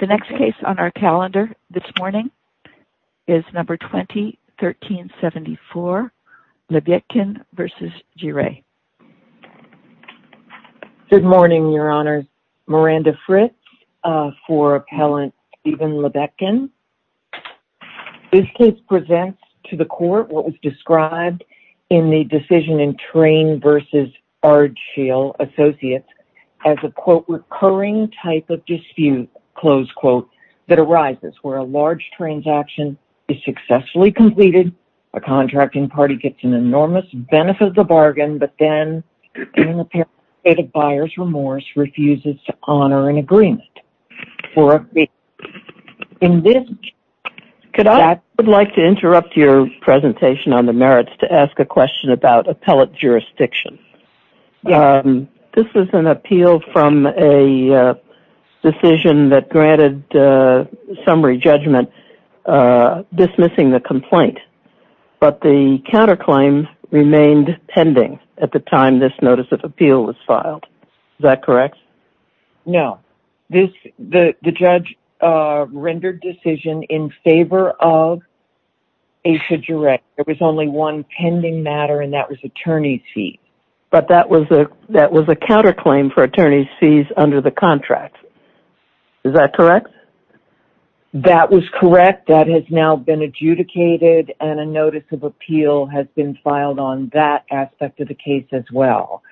The next case on our calendar this morning is No. 20-1374, Lebetkin v. Giray. Good morning, Your Honor. Miranda Fritz for Appellant Stephen Lebetkin. This case presents to the court what was described in the decision in Train v. Ardshill Associates as a, quote, recurring type of dispute, close quote, that arises where a large transaction is successfully completed, a contracting party gets an enormous benefit of the bargain, but then, in an apparent state of buyer's remorse, refuses to honor an agreement. Could I interrupt your presentation on the merits to ask a question about appellate jurisdiction? This is an appeal from a decision that granted summary judgment dismissing the complaint, but the counterclaim remained pending at the time this notice of appeal was filed. Is that correct? No. The judge rendered decision in favor of Asia Giray. There was only one pending matter, and that was attorney's fees. But that was a counterclaim for attorney's fees under the contract. Is that correct? That was correct. That has now been adjudicated, and a notice of appeal has been filed on that aspect of the case as well.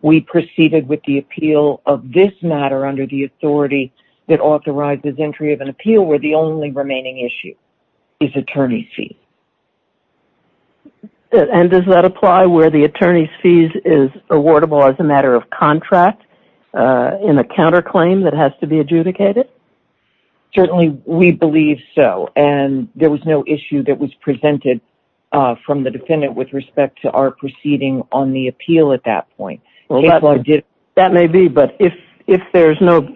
We proceeded with the appeal of this matter under the authority that authorizes entry of an appeal where the only remaining issue is attorney's fees. And does that apply where the attorney's fees is awardable as a matter of contract in a counterclaim that has to be adjudicated? Certainly, we believe so, and there was no issue that was presented from the defendant with respect to our proceeding on the appeal at that point. That may be, but if there's no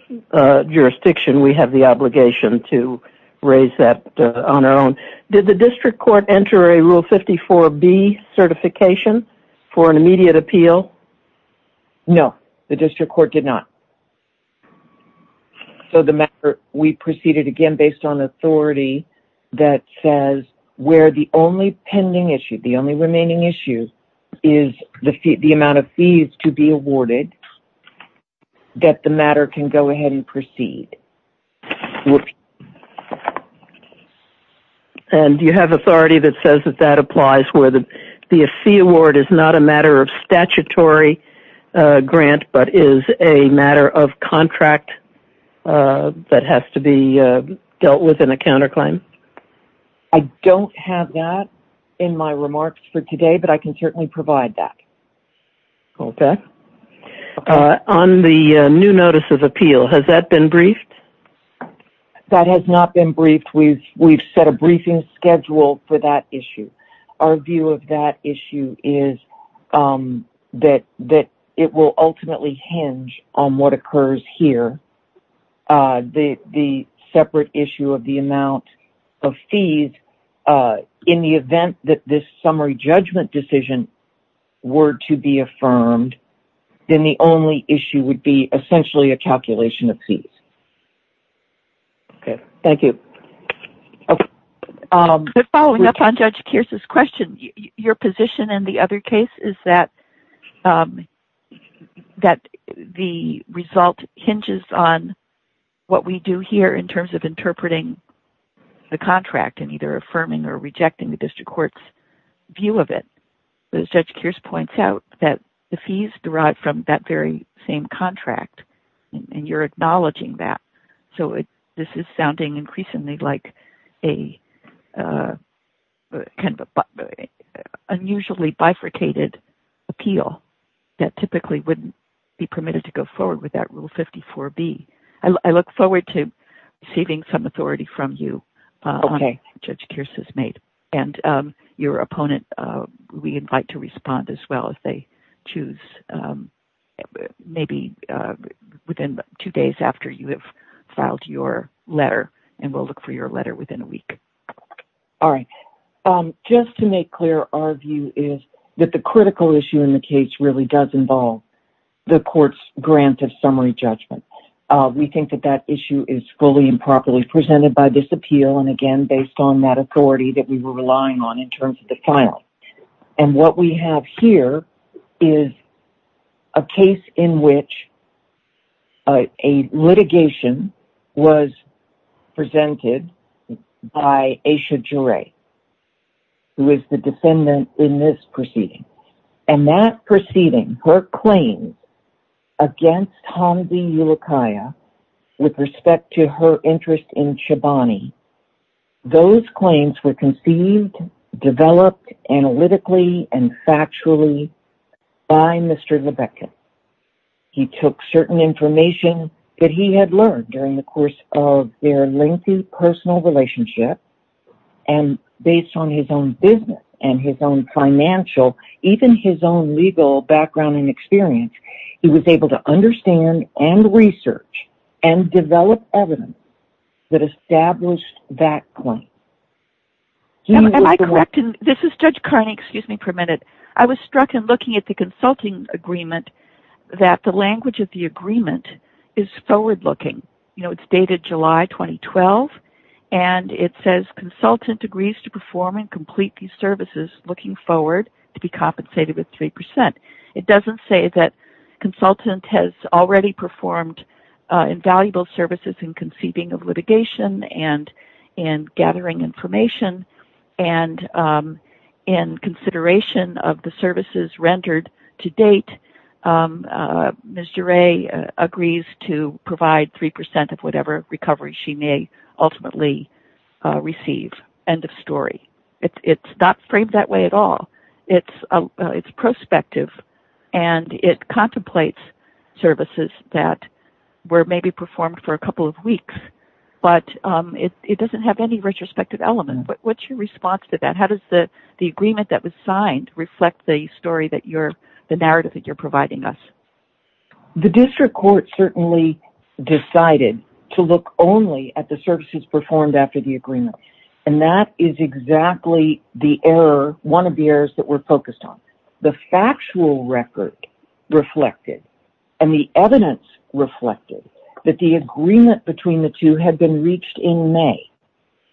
jurisdiction, we have the obligation to raise that on our own. Did the district court enter a Rule 54B certification for an immediate appeal? No, the district court did not. We proceeded again based on authority that says where the only pending issue, the only remaining issue, is the amount of fees to be awarded, that the matter can go ahead and proceed. And you have authority that says that that applies where the fee award is not a matter of statutory grant, but is a matter of contract that has to be dealt with in a counterclaim? I don't have that in my remarks for today, but I can certainly provide that. Okay. On the new notice of appeal, has that been briefed? That has not been briefed. We've set a briefing schedule for that issue. Our view of that issue is that it will ultimately hinge on what occurs here, the separate issue of the amount of fees. In the event that this summary judgment decision were to be affirmed, then the only issue would be essentially a calculation of fees. Okay. Thank you. Following up on Judge Kearse's question, your position in the other case is that the result hinges on what we do here in terms of interpreting the contract and either affirming or rejecting the district court's view of it. Judge Kearse points out that the fees derive from that very same contract, and you're acknowledging that. So this is sounding increasingly like an unusually bifurcated appeal that typically wouldn't be permitted to go forward without Rule 54B. I look forward to receiving some authority from you, Judge Kearse's mate, and your opponent. We invite to respond as well if they choose, maybe within two days after you have filed your letter, and we'll look for your letter within a week. All right. Just to make clear, our view is that the critical issue in the case really does involve the court's granted summary judgment. We think that that issue is fully and properly presented by this appeal, and again, based on that authority that we were relying on in terms of the filing. And what we have here is a case in which a litigation was presented by Aisha Jure, who is the defendant in this proceeding. And that proceeding, her claims against Hamze Ulukaya with respect to her interest in Chobani, those claims were conceived, developed analytically, and factually by Mr. Lebeckis. He took certain information that he had learned during the course of their lengthy personal relationship, and based on his own business and his own financial, even his own legal background and experience, he was able to understand and research and develop evidence that established that claim. Am I correct? This is Judge Carney. Excuse me for a minute. I was struck in looking at the consulting agreement that the language of the agreement is forward-looking. It's dated July 2012, and it says, It doesn't say that consultant has already performed invaluable services in conceiving of litigation and in gathering information, and in consideration of the services rendered to date, Ms. Jure agrees to provide 3% of whatever recovery she may ultimately receive. End of story. It's not framed that way at all. It's prospective, and it contemplates services that were maybe performed for a couple of weeks, but it doesn't have any retrospective element. What's your response to that? How does the agreement that was signed reflect the narrative that you're providing us? The district court certainly decided to look only at the services performed after the agreement, and that is exactly one of the errors that we're focused on. The factual record reflected, and the evidence reflected, that the agreement between the two had been reached in May,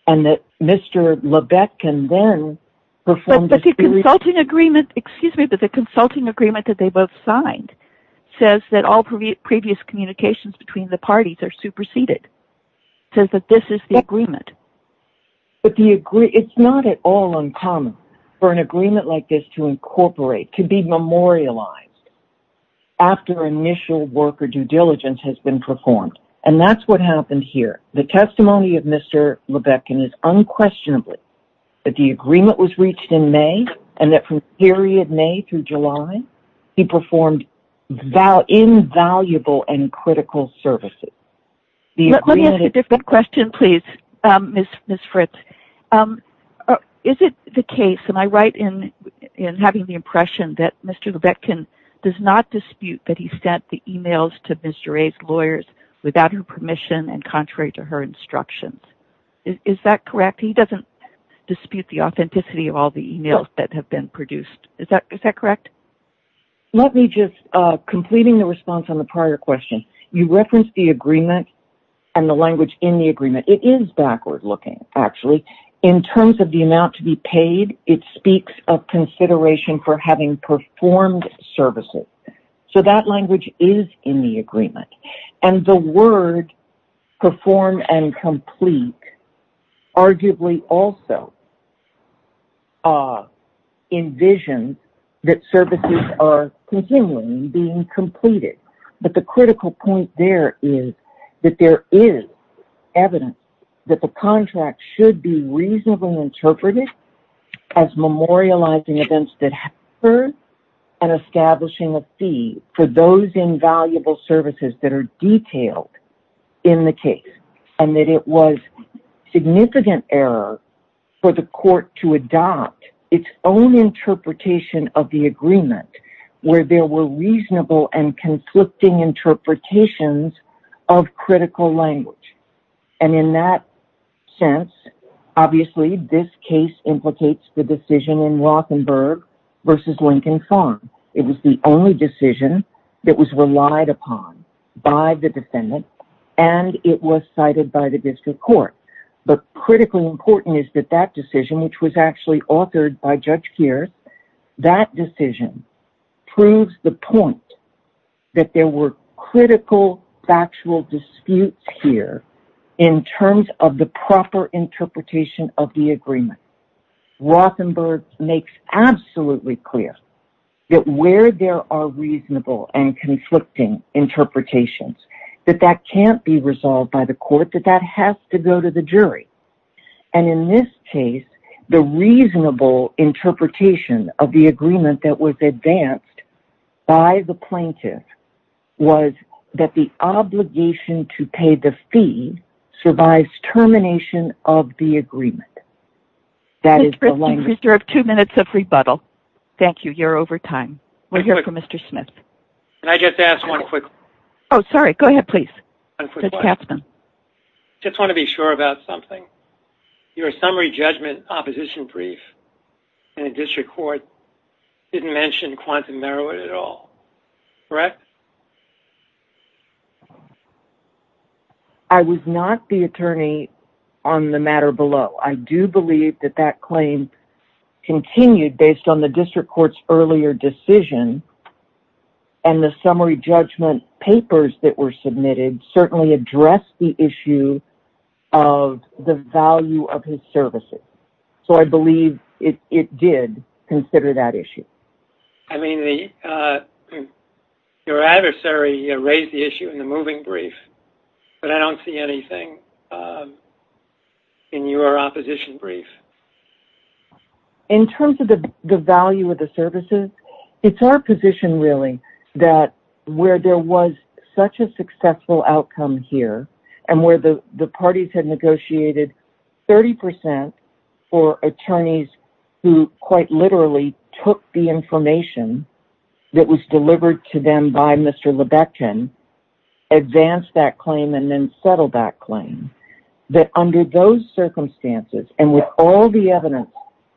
and that Mr. LeBecq can then perform... But the consulting agreement, excuse me, but the consulting agreement that they both signed says that all previous communications between the parties are superseded. It says that this is the agreement. It's not at all uncommon for an agreement like this to incorporate, to be memorialized, after initial work or due diligence has been performed, and that's what happened here. The testimony of Mr. LeBecq is unquestionably that the agreement was reached in May, and that from the period May through July, he performed invaluable and critical services. Let me ask a different question, please, Ms. Fritz. Is it the case, am I right in having the impression that Mr. LeBecq does not dispute that he sent the emails to Ms. Duret's lawyers without her permission and contrary to her instructions? Is that correct? He doesn't dispute the authenticity of all the emails that have been produced. Is that correct? Let me just, completing the response on the prior question, you referenced the agreement and the language in the agreement. It is backward-looking, actually. In terms of the amount to be paid, it speaks of consideration for having performed services. So that language is in the agreement. And the word, perform and complete, arguably also envisions that services are continually being completed. But the critical point there is that there is evidence that the contract should be reasonably interpreted as memorializing events that occurred and establishing a fee for those invaluable services that are detailed in the case. And that it was significant error for the court to adopt its own interpretation of the agreement where there were reasonable and conflicting interpretations of critical language. And in that sense, obviously, this case implicates the decision in Rothenburg versus Lincoln Farm. It was the only decision that was relied upon by the defendant. And it was cited by the district court. But critically important is that that decision, which was actually authored by Judge Keirth, that decision proves the point that there were critical factual disputes here in terms of the proper interpretation of the agreement. Rothenburg makes absolutely clear that where there are reasonable and conflicting interpretations, that that can't be resolved by the court. That that has to go to the jury. And in this case, the reasonable interpretation of the agreement that was advanced by the plaintiff was that the obligation to pay the fee survives termination of the agreement. That is the language. Mr. Christie, you have two minutes of rebuttal. Thank you. You're over time. We're here for Mr. Smith. Can I just ask one quick question? Oh, sorry. Go ahead, please. I just want to be sure about something. Your summary judgment opposition brief in the district court didn't mention quantum merit at all. Correct? I was not the attorney on the matter below. I do believe that that claim continued based on the district court's earlier decision, and the summary judgment papers that were submitted certainly addressed the issue of the value of his services. So I believe it did consider that issue. I mean, your adversary raised the issue in the moving brief, but I don't see anything in your opposition brief. In terms of the value of the services, it's our position, really, that where there was such a successful outcome here and where the parties had negotiated 30% for attorneys who quite literally took the information that was delivered to them by Mr. Lebeckin, advanced that claim and then settled that claim, that under those circumstances and with all the evidence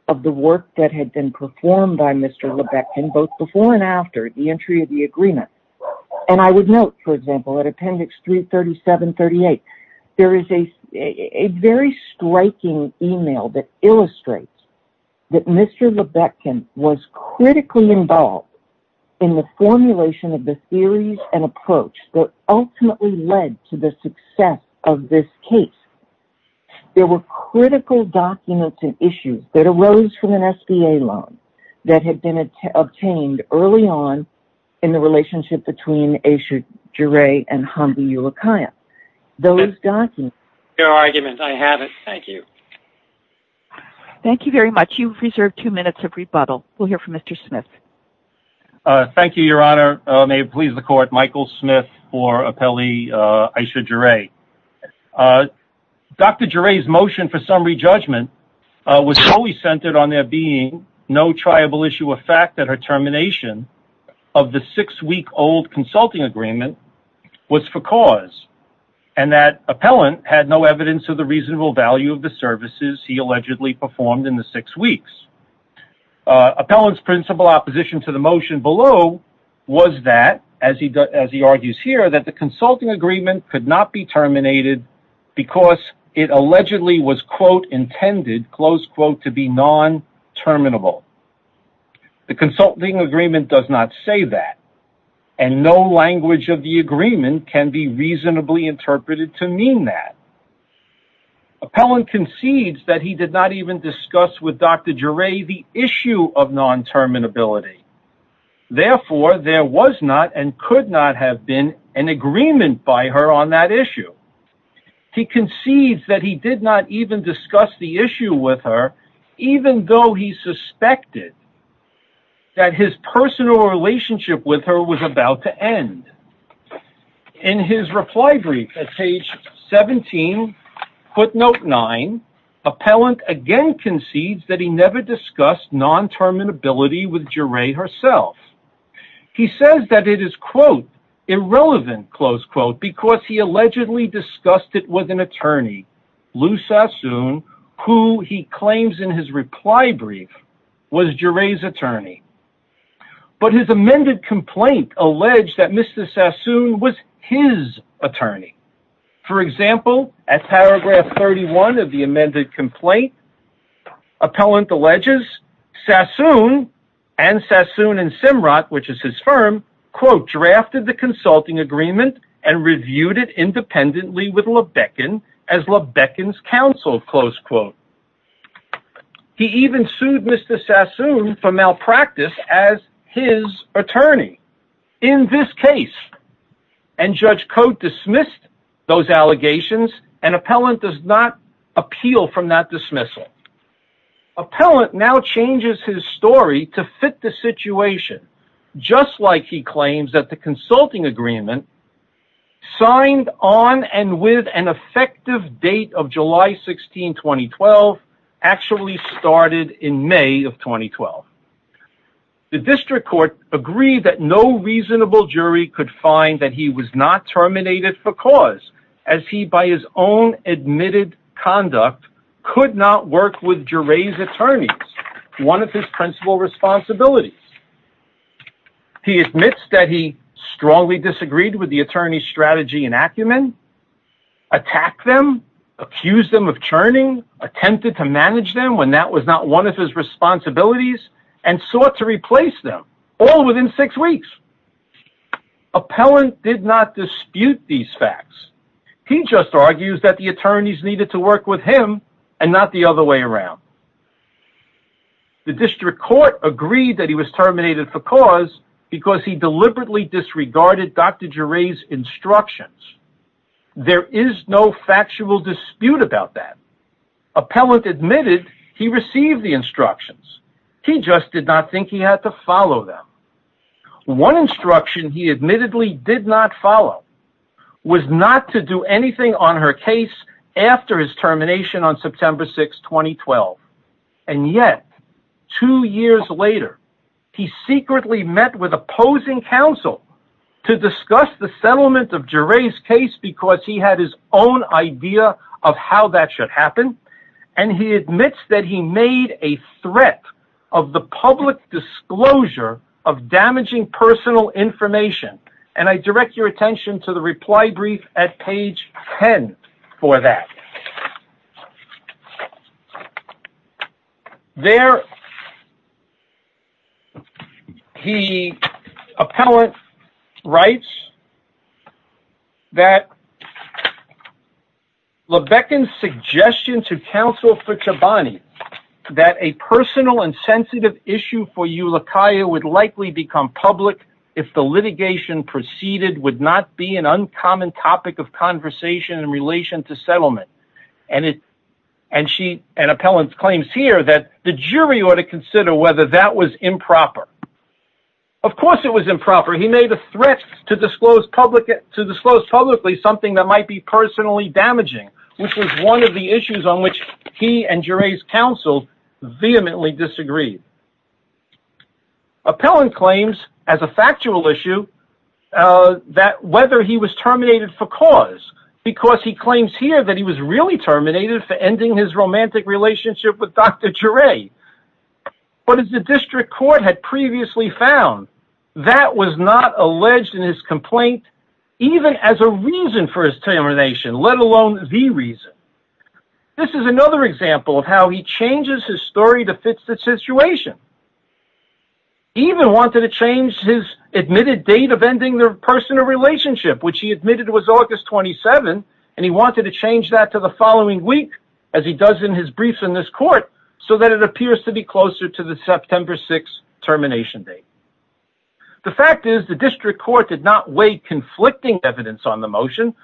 of the work that had been performed by Mr. Lebeckin, both before and after the entry of the agreement, and I would note, for example, at Appendix 337-38, there is a very striking email that illustrates that Mr. Lebeckin was critically involved in the formulation of the theories and approach that ultimately led to the success of this case. There were critical documents and issues that arose from an SBA loan that had been obtained early on in the relationship between Ayesha Geray and Hamdi Ulukaya. Your argument, I have it. Thank you. Thank you very much. You've reserved two minutes of rebuttal. We'll hear from Mr. Smith. Thank you, Your Honor. May it please the Court, Michael Smith for appellee Ayesha Geray. Dr. Geray's motion for summary judgment was solely centered on there being no triable issue of fact that her termination of the six-week-old consulting agreement was for cause, and that appellant had no evidence of the reasonable value of the services he allegedly performed in the six weeks. Appellant's principal opposition to the motion below was that, as he argues here, that the consulting agreement could not be terminated because it allegedly was, quote, intended, close quote, to be non-terminable. The consulting agreement does not say that, and no language of the agreement can be reasonably interpreted to mean that. Appellant concedes that he did not even discuss with Dr. Geray the issue of non-terminability. Therefore, there was not and could not have been an agreement by her on that issue. He concedes that he did not even discuss the issue with her, even though he suspected that his personal relationship with her was about to end. In his reply brief at page 17, footnote 9, appellant again concedes that he never discussed non-terminability with Geray herself. He says that it is, quote, irrelevant, close quote, because he allegedly discussed it with an attorney, Lou Sassoon, who he claims in his reply brief was Geray's attorney. But his amended complaint alleged that Mr. Sassoon was his attorney. For example, at paragraph 31 of the amended complaint, appellant alleges Sassoon and Sassoon and Simrat, which is his firm, quote, drafted the consulting agreement and reviewed it independently with Lebeckin as Lebeckin's counsel, close quote. He even sued Mr. Sassoon for malpractice as his attorney in this case. And Judge Cote dismissed those allegations, and appellant does not appeal from that dismissal. Appellant now changes his story to fit the situation, just like he claims that the consulting agreement, signed on and with an effective date of July 16, 2012, actually started in May of 2012. The district court agreed that no reasonable jury could find that he was not terminated for cause, as he, by his own admitted conduct, could not work with Geray's attorneys, one of his principal responsibilities. He admits that he strongly disagreed with the attorney's strategy in Acumen, attacked them, accused them of churning, attempted to manage them when that was not one of his responsibilities, and sought to replace them, all within six weeks. Appellant did not dispute these facts. He just argues that the attorneys needed to work with him and not the other way around. The district court agreed that he was terminated for cause because he deliberately disregarded Dr. Geray's instructions. There is no factual dispute about that. Appellant admitted he received the instructions. He just did not think he had to follow them. One instruction he admittedly did not follow was not to do anything on her case after his termination on September 6, 2012. And yet, two years later, he secretly met with opposing counsel to discuss the settlement of Geray's case because he had his own idea of how that should happen. And he admits that he made a threat of the public disclosure of damaging personal information. And I direct your attention to the reply brief at page 10 for that. There, the appellant writes that Lebeckan's suggestion to counsel Fichabani that a personal and sensitive issue for Ulukaya would likely become public if the litigation proceeded would not be an uncommon topic of conversation in relation to settlement. And appellant claims here that the jury ought to consider whether that was improper. Of course it was improper. He made a threat to disclose publicly something that might be personally damaging, which was one of the issues on which he and Geray's counsel vehemently disagreed. Appellant claims, as a factual issue, that whether he was terminated for cause, because he claims here that he was really terminated for ending his romantic relationship with Dr. Geray. But as the district court had previously found, that was not alleged in his complaint, even as a reason for his termination, let alone the reason. This is another example of how he changes his story to fit the situation. He even wanted to change his admitted date of ending their personal relationship, which he admitted was August 27, and he wanted to change that to the following week, as he does in his briefs in this court, so that it appears to be closer to the September 6 termination date. The fact is, the district court did not weigh conflicting evidence on the motion.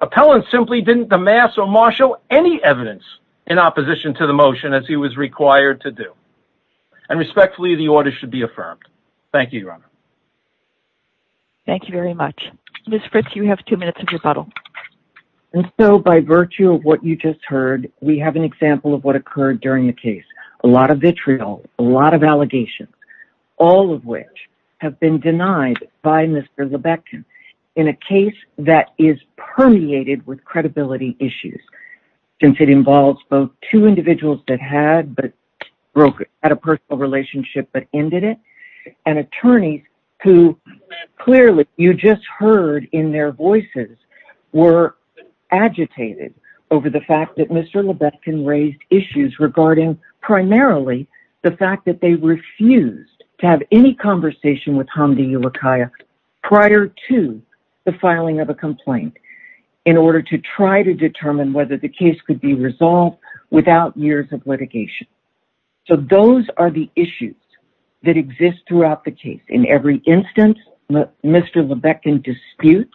Appellant simply didn't amass or marshal any evidence in opposition to the motion, as he was required to do. And respectfully, the order should be affirmed. Thank you, Your Honor. Thank you very much. Ms. Fritz, you have two minutes of rebuttal. And so, by virtue of what you just heard, we have an example of what occurred during the case. A lot of vitriol, a lot of allegations, all of which have been denied by Mr. Lebeckin in a case that is permeated with credibility issues. Since it involves both two individuals that had a personal relationship but ended it, and attorneys who, clearly, you just heard in their voices, were agitated over the fact that Mr. Lebeckin raised issues regarding primarily the fact that they refused to have any conversation with Hamdi Ulukaya prior to the filing of a complaint in order to try to determine whether the case could be resolved without years of litigation. So, those are the issues that exist throughout the case. In every instance, Mr. Lebeckin disputes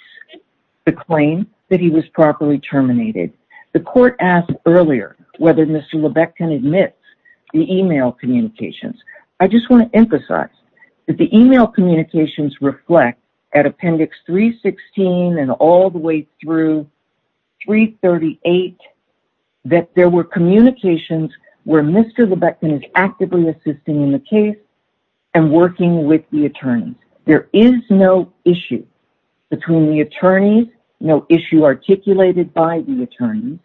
the claim that he was properly terminated. The court asked earlier whether Mr. Lebeckin admits the email communications. I just want to emphasize that the email communications reflect, at Appendix 316 and all the way through 338, that there were communications where Mr. Lebeckin is actively assisting in the case and working with the attorneys. There is no issue between the attorneys, no issue articulated by the attorneys,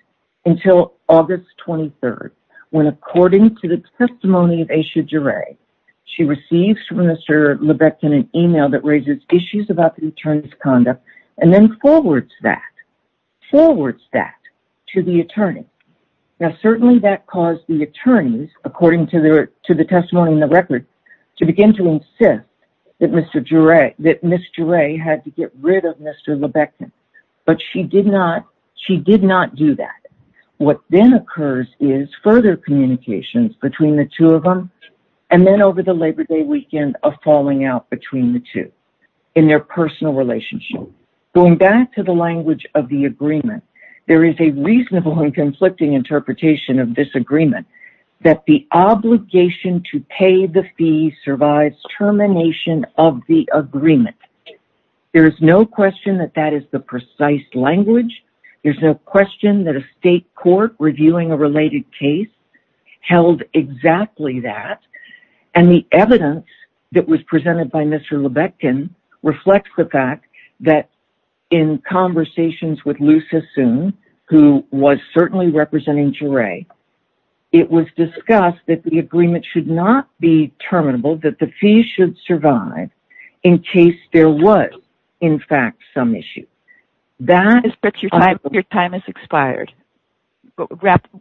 until August 23rd when, according to the testimony of Aisha Duray, she receives from Mr. Lebeckin an email that raises issues about the attorney's conduct and then forwards that to the attorney. Now, certainly that caused the attorneys, according to the testimony in the record, to begin to insist that Ms. Duray had to get rid of Mr. Lebeckin, but she did not do that. What then occurs is further communications between the two of them, and then over the Labor Day weekend, a falling out between the two in their personal relationship. Going back to the language of the agreement, there is a reasonable and conflicting interpretation of this agreement that the obligation to pay the fee survives termination of the agreement. There is no question that that is the precise language, there is no question that a state court reviewing a related case held exactly that, and the evidence that was presented by Mr. Lebeckin reflects the fact that in conversations with Lusa Soon, who was certainly representing Duray, it was discussed that the agreement should not be terminable, that the fee should survive in case there was, in fact, some issue. Your time has expired.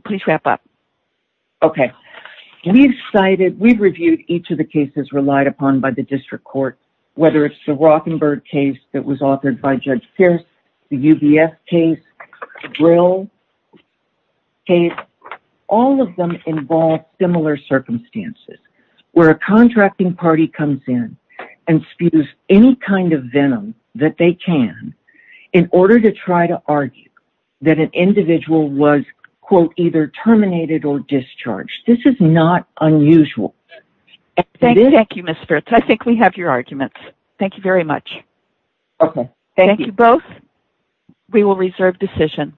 Please wrap up. Okay. We've cited, we've reviewed each of the cases relied upon by the district court, whether it's the Rothenberg case that was authored by Judge Pierce, the UBS case, the Brill case. This is not unusual. Thank you, Ms. Fritz. I think we have your arguments. Thank you very much. Okay. Thank you both. We will reserve decision.